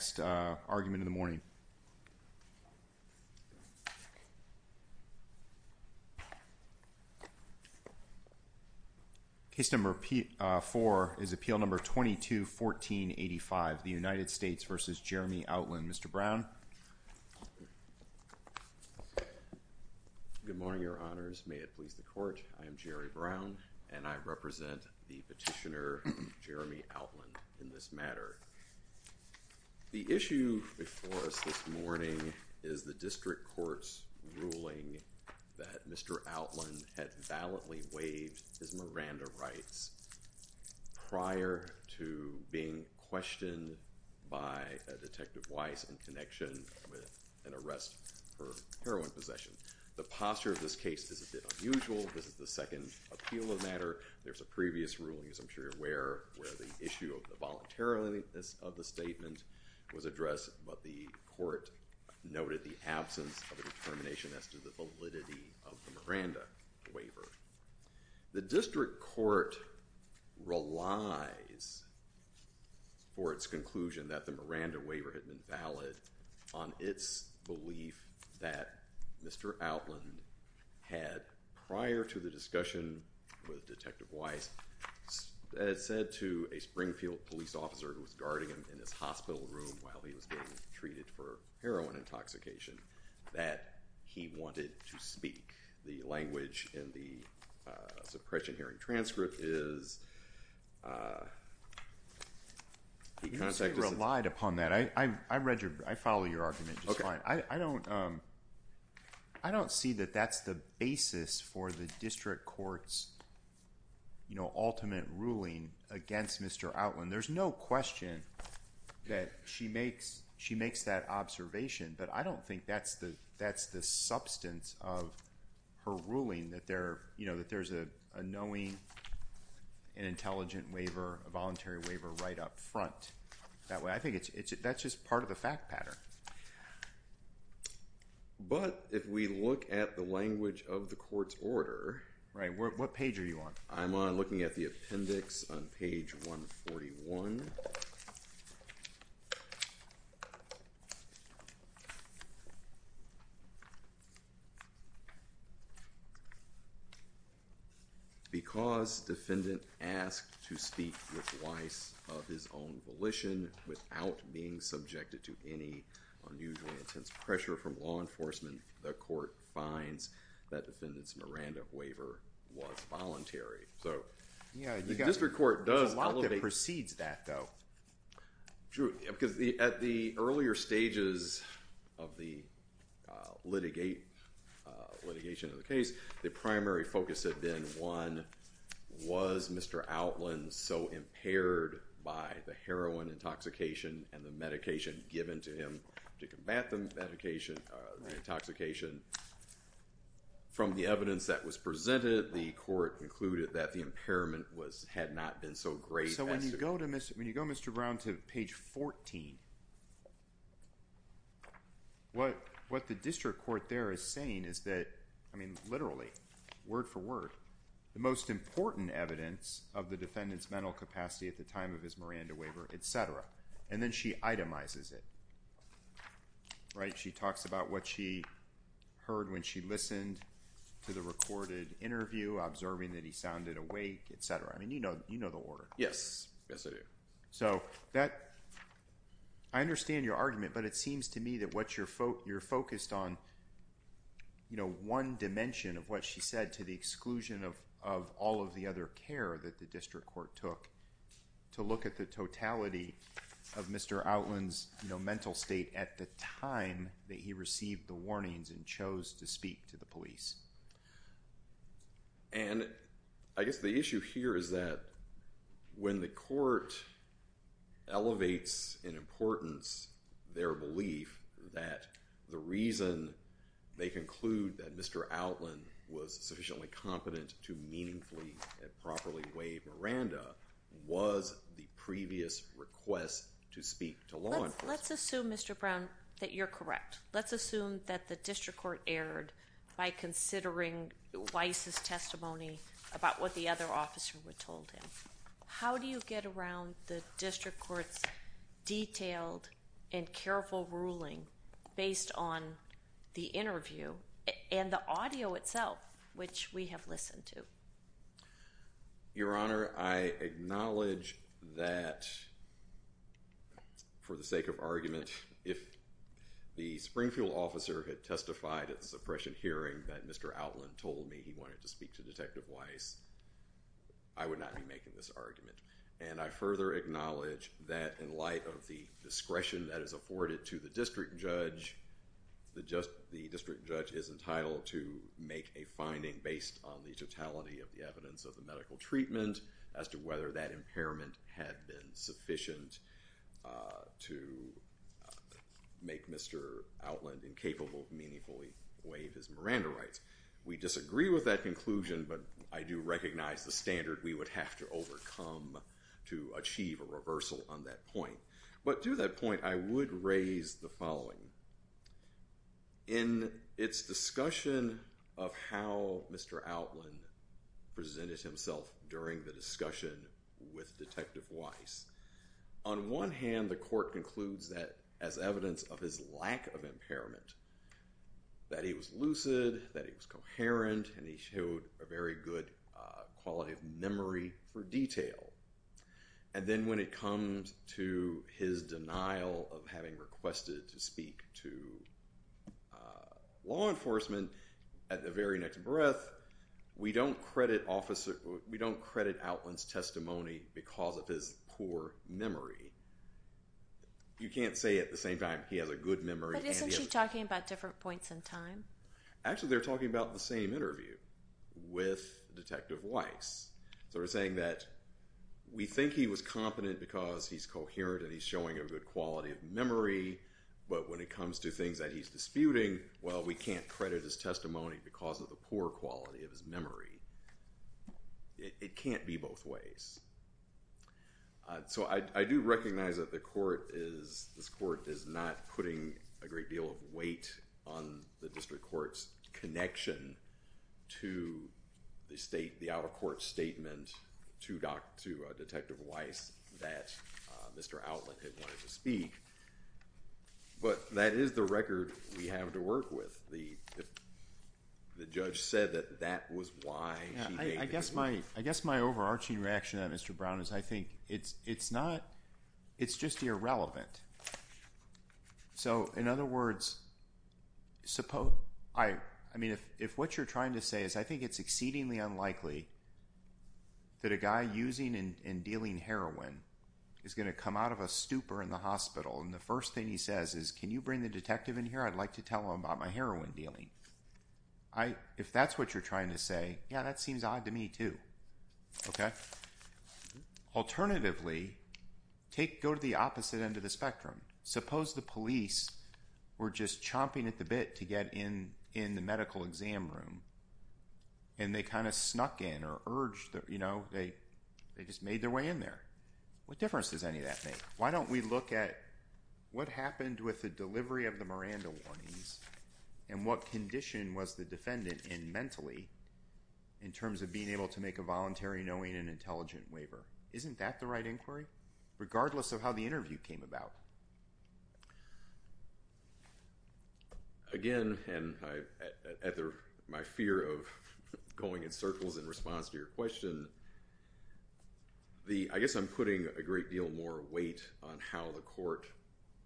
Mr. Brown Good morning your honors, may it please the court, I am Jerry Brown and I represent the petitioner Jeremy Outland in this matter. The issue before us this morning is the district court's ruling that Mr. Outland had valiantly waived his Miranda rights prior to being questioned by a Detective Weiss in connection with an arrest for heroin possession. The posture of this case is a bit unusual. This is the second appeal of matter. There's a previous ruling, as I'm sure you're aware, where the issue of the voluntariliness of the statement was addressed but the court noted the absence of a determination as to the validity of the Miranda waiver. The district court relies for its conclusion that the Miranda waiver had been valid on its belief that Mr. Outland had, prior to the discussion with Detective Weiss, said to a Springfield police officer who was guarding him in his hospital room while he was being treated for heroin intoxication that he wanted to speak. The language in the suppression hearing transcript is, he relied upon that. I follow your argument. I don't see that that's the basis for the district court's ultimate ruling against Mr. Outland. There's no question that she makes that observation but I don't think that's the substance of her ruling that there's a knowing and intelligent waiver, a voluntary waiver, right up front. I think that's just part of the fact pattern. But if we look at the language of the court's order. Right. What page are you on? I'm on looking at the appendix on page 141. Because defendant asked to speak with Weiss of his own volition without being subjected to any unusually intense pressure from law enforcement, the court finds that defendant's Miranda waiver was voluntary. So yeah, the district court does. There's a lot that precedes that though. At the earlier stages of the litigation of the case, the primary focus had been, one, was Mr. Outland so impaired by the heroin intoxication and the medication given to him to combat the medication, the intoxication. From the evidence that was presented, the court concluded that the impairment was, had not been so great. So when you go to Mr. Brown to page 14, what the district court there is saying is that, I mean literally, word-for-word, the most important evidence of the defendant's mental capacity at the time of his Miranda waiver, etc. And then she itemizes it. Right. She talks about what she heard when she listened to the recorded interview, observing that he sounded awake, etc. I mean, you know, you know the order. Yes. Yes, I do. So that, I understand your argument, but it seems to me that what you're focused on, you know, one dimension of what she said to the exclusion of all of the other care that the district court took, to look at the totality of Mr. Outland's, you know, mental state at the time that he received the warnings and chose to speak to the police. And I guess the issue here is that when the court elevates in Mr. Outland was sufficiently competent to meaningfully and properly waive Miranda, was the previous request to speak to law enforcement. Let's assume, Mr. Brown, that you're correct. Let's assume that the district court erred by considering Weiss's testimony about what the other officer had told him. How do you get around the district court's detailed and careful ruling based on the interview and the audio itself, which we have listened to? Your Honor, I acknowledge that for the sake of argument, if the Springfield officer had testified at the suppression hearing that Mr. Outland told me he wanted to speak to Detective Weiss, I would not be making this argument. And I further acknowledge that in light of the discretion that is afforded to the district judge, the district judge is entitled to make a finding based on the totality of the evidence of the medical treatment as to whether that impairment had been sufficient to make Mr. Outland incapable of meaningfully waive his Miranda rights. We disagree with that conclusion, but I do recognize the standard we would have to overcome to achieve a reversal on that point. But to that point, I would raise the following. In its discussion of how Mr. Outland presented himself during the discussion with Detective Weiss, on one hand the court concludes that as evidence of his lack of impairment, that he was lucid, that he was coherent, and he showed a very good quality of memory for detail. And then when it comes to his denial of having requested to speak to law enforcement at the very next breath, we don't credit Outland's testimony because of his poor memory. You can't say at the same time he has a good memory. But isn't she talking about different points in time? Actually they're talking about the same interview with saying that we think he was competent because he's coherent and he's showing a good quality of memory, but when it comes to things that he's disputing, well, we can't credit his testimony because of the poor quality of his memory. It can't be both ways. So I do recognize that the court is, this court is not putting a great deal of weight on the district court's connection to the state, the out-of-court statement to Detective Weiss that Mr. Outland had wanted to speak, but that is the record we have to work with. The judge said that that was why she gave the interview. I guess my overarching reaction on Mr. Brown is I think it's not, it's just irrelevant. So, in other words, I mean, if what you're trying to say is I think it's exceedingly unlikely that a guy using and dealing heroin is going to come out of a stupor in the hospital and the first thing he says is, can you bring the detective in here? I'd like to tell him about my heroin dealing. If that's what you're trying to say, yeah, that seems odd to me too. Okay? Alternatively, go to the opposite end of the spectrum. Suppose the police were just chomping at the bit to get in the medical exam room and they kind of snuck in or urged, you know, they just made their way in there. What difference does any of that make? Why don't we look at what happened with the delivery of the Miranda warnings and what condition was the defendant in mentally in terms of being able to make a voluntary knowing and intelligent waiver? Isn't that the right inquiry? Regardless of how the interview came about. Again, and my fear of going in circles in response to your question, I guess I'm putting a great deal more weight on how the court,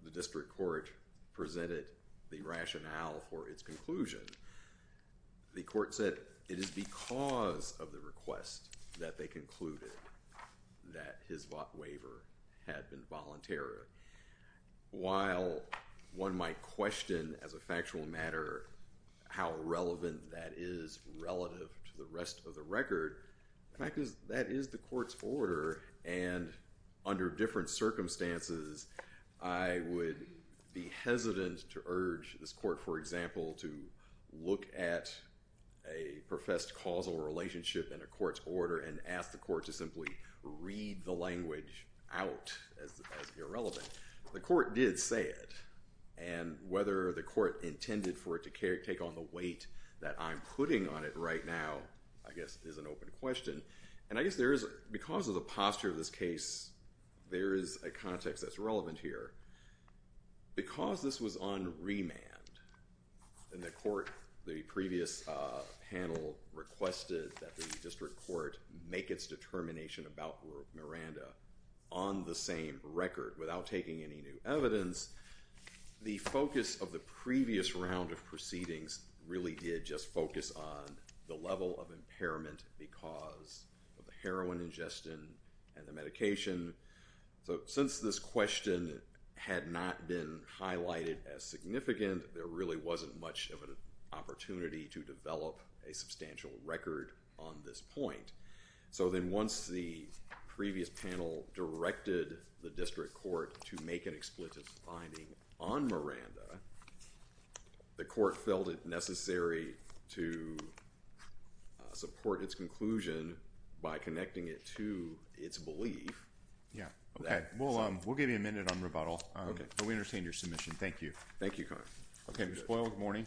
the district court presented the rationale for its conclusion. The court said it is because of the request that they concluded that his waiver had been voluntary. While one might question as a factual matter how relevant that is relative to the rest of the record, the fact is that is the court's order and under different circumstances, I would be hesitant to urge this court, for example, to look at a professed causal relationship in a court's order and ask the court to simply read the language out as irrelevant. The court did say it. And whether the court intended for it to take on the weight that I'm putting on it right now, I guess is an open question. And I guess there is, because of the posture of this case, there is a context that's relevant here. Because this was on remand and the court, the previous panel requested that the district court make its determination about Miranda on the same record without taking any new evidence, the focus of the previous round of proceedings really did just focus on the level of impairment because of the heroin ingestion and the medication. So since this question had not been highlighted as significant, there really wasn't much of an opportunity to develop a substantial record on this point. So then once the previous panel directed the district court to make an expletive finding on Miranda, the court felt it necessary to support its conclusion by connecting it to its belief. Yeah. Okay. We'll give you a minute on rebuttal. Okay. But we understand your submission. Thank you. Thank you, Connor. Okay. Ms. Boyle, good morning.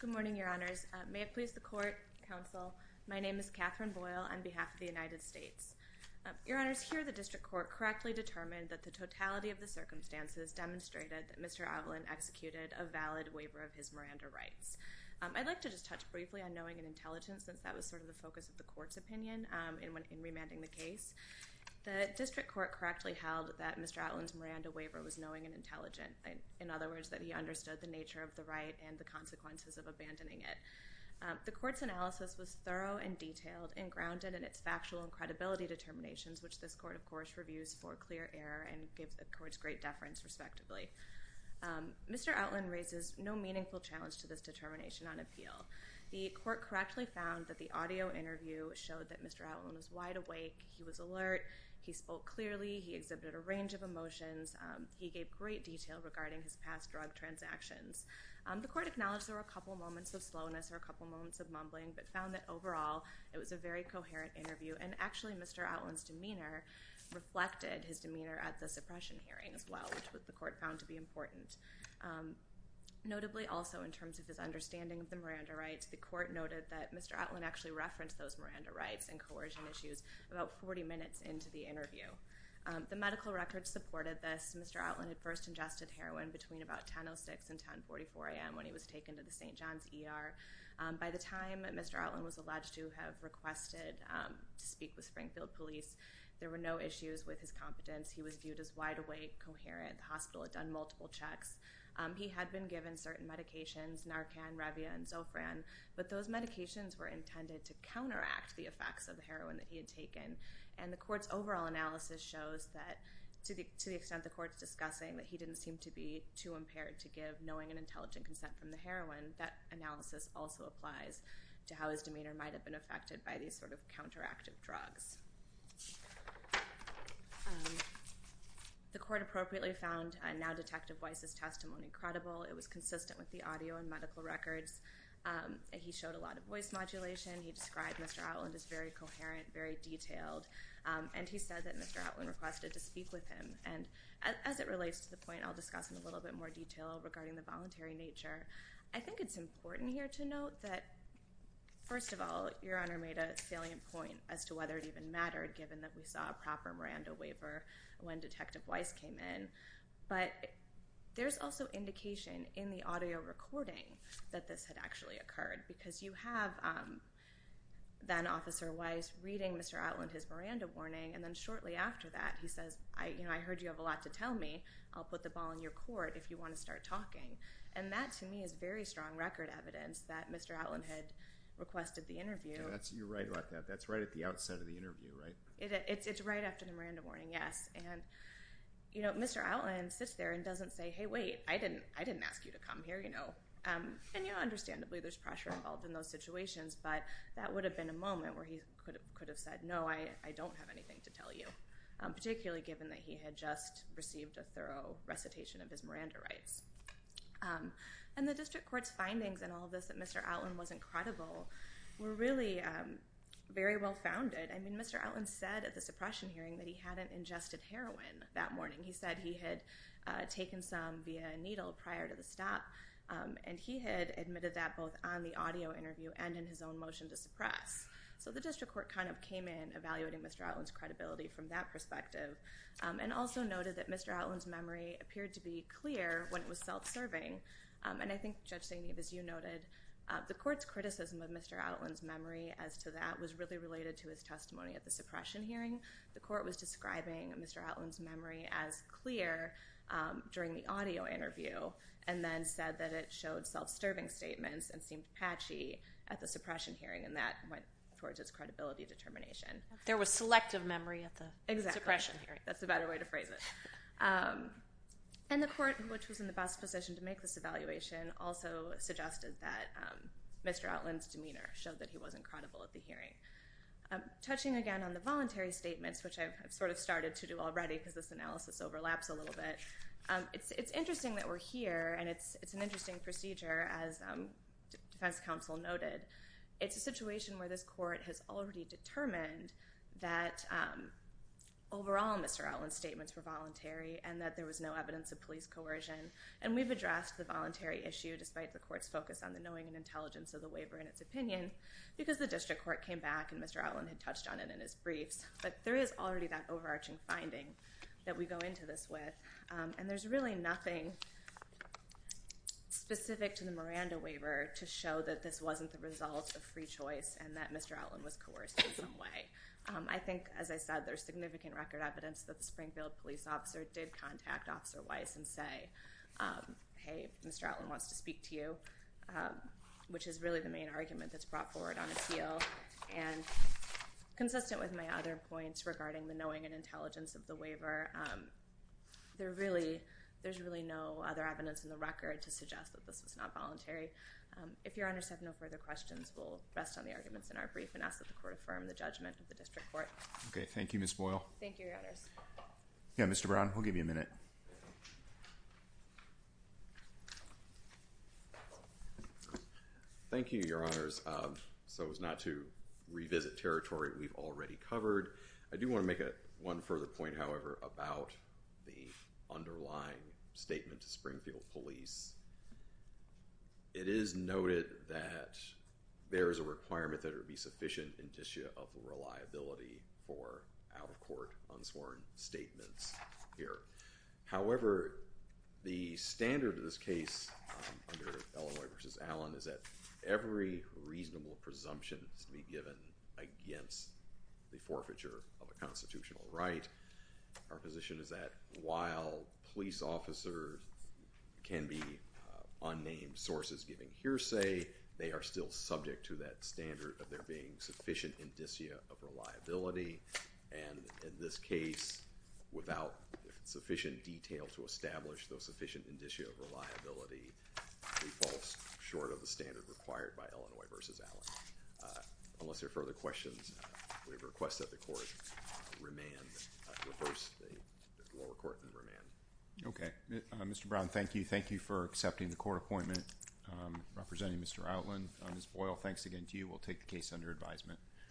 Good morning, Your Honors. May it be a pleasure, counsel. My name is Catherine Boyle on behalf of the United States. Your Honors, here the district court correctly determined that the totality of the circumstances demonstrated that Mr. Outland executed a valid waiver of his Miranda rights. I'd like to just touch briefly on knowing and intelligence since that was sort of the focus of the court's opinion in remanding the case. The district court correctly held that Mr. Outland's Miranda waiver was knowing and intelligent. In other words, that he understood the nature of the right and the consequences of abandoning it. The analysis was thorough and detailed and grounded in its factual and credibility determinations, which this court, of course, reviews for clear error and gives the court's great deference, respectively. Mr. Outland raises no meaningful challenge to this determination on appeal. The court correctly found that the audio interview showed that Mr. Outland was wide awake. He was alert. He spoke clearly. He exhibited a range of emotions. He gave great detail regarding his past drug transactions. The court acknowledged there were a couple moments of slowness or a couple moments of mumbling, but found that overall it was a very coherent interview. And actually, Mr. Outland's demeanor reflected his demeanor at the suppression hearing as well, which the court found to be important. Notably, also in terms of his understanding of the Miranda rights, the court noted that Mr. Outland actually referenced those Miranda rights and coercion issues about 40 minutes into the interview. The medical records supported this. Mr. Outland had first ingested heroin between about 10.06 and 10.44 a.m. when he was taken to the St. John's Hospital in Baltimore. By the time Mr. Outland was alleged to have requested to speak with Springfield police, there were no issues with his competence. He was viewed as wide awake, coherent. The hospital had done multiple checks. He had been given certain medications, Narcan, Revia, and Zofran, but those medications were intended to counteract the effects of the heroin that he had taken. And the court's overall analysis shows that, to the extent the court's discussing, that he didn't seem to be too impaired to give, knowing an intelligent consent from the hospital. This also applies to how his demeanor might have been affected by these sort of counteractive drugs. The court appropriately found now-Detective Weiss's testimony credible. It was consistent with the audio and medical records. He showed a lot of voice modulation. He described Mr. Outland as very coherent, very detailed, and he said that Mr. Outland requested to speak with him. And as it relates to the point I'll discuss in a little bit more detail regarding the voluntary nature, I think it's important here to note that, first of all, Your Honor made a salient point as to whether it even mattered, given that we saw a proper Miranda waiver when Detective Weiss came in. But there's also indication in the audio recording that this had actually occurred, because you have then-Officer Weiss reading Mr. Outland his Miranda warning, and then shortly after that he says, you know, I heard you have a lot to tell me. I'll put the ball in your court if you want to start talking. And that, to me, is very strong record evidence that Mr. Outland had requested the interview. You're right about that. That's right at the outset of the interview, right? It's right after the Miranda warning, yes. And, you know, Mr. Outland sits there and doesn't say, hey, wait, I didn't ask you to come here, you know. And, you know, understandably there's pressure involved in those situations, but that would have been a moment where he could have said, no, I don't have anything to tell you, particularly given that he had just received a thorough recitation of his Miranda rights. And the District Court's findings in all of this that Mr. Outland wasn't credible were really very well-founded. I mean, Mr. Outland said at the suppression hearing that he hadn't ingested heroin that morning. He said he had taken some via a needle prior to the stop, and he had admitted that both on the audio interview and in his own motion to suppress. So the District Court kind of came in evaluating Mr. Outland's credibility from that perspective, and also noted that Mr. Outland's memory appeared to be clear when it was self-serving. And I think, Judge Zainib, as you noted, the Court's criticism of Mr. Outland's memory as to that was really related to his testimony at the suppression hearing. The Court was describing Mr. Outland's memory as clear during the audio interview, and then said that it showed self-serving statements and seemed patchy at the suppression hearing, and that went towards its credibility determination. There was selective memory at the suppression hearing. That's the better way to phrase it. And the Court, which was in the best position to make this evaluation, also suggested that Mr. Outland's demeanor showed that he wasn't credible at the hearing. Touching again on the voluntary statements, which I've sort of started to do already because this analysis overlaps a little bit, it's interesting that we're here, and it's an interesting procedure, as Defense Counsel noted. It's a situation where this Court has already determined that overall Mr. Outland's statements were voluntary and that there was no evidence of police coercion. And we've addressed the voluntary issue, despite the Court's focus on the knowing and intelligence of the waiver in its opinion, because the District Court came back and Mr. Outland had touched on it in his briefs. But there is already that overarching finding that we go into this with. And there's really nothing specific to the Miranda choice and that Mr. Outland was coerced in some way. I think, as I said, there's significant record evidence that the Springfield police officer did contact Officer Weiss and say, hey, Mr. Outland wants to speak to you, which is really the main argument that's brought forward on appeal. And consistent with my other points regarding the knowing and intelligence of the waiver, there's really no other evidence in the record to suggest that this was not voluntary. If your honors have no further questions, we'll rest on the arguments in our brief and ask that the Court affirm the judgment of the District Court. Okay, thank you, Ms. Boyle. Thank you, your honors. Yeah, Mr. Brown, we'll give you a minute. Thank you, your honors. So as not to revisit territory we've already covered, I do want to make it one further point, however, about the underlying statement to Springfield police. It is noted that there is a requirement that it would be sufficient indicia of reliability for out-of-court unsworn statements here. However, the standard of this case under Illinois v. Allen is that every reasonable presumption is to be our position is that while police officers can be unnamed sources giving hearsay, they are still subject to that standard of there being sufficient indicia of reliability. And in this case, without sufficient detail to establish those sufficient indicia of reliability, it falls short of the standard required by Illinois v. Allen. Unless there are further questions, we request that the lower court remand. Okay, Mr. Brown, thank you. Thank you for accepting the court appointment. Representing Mr. Outland, Ms. Boyle, thanks again to you. We'll take the case under advisement.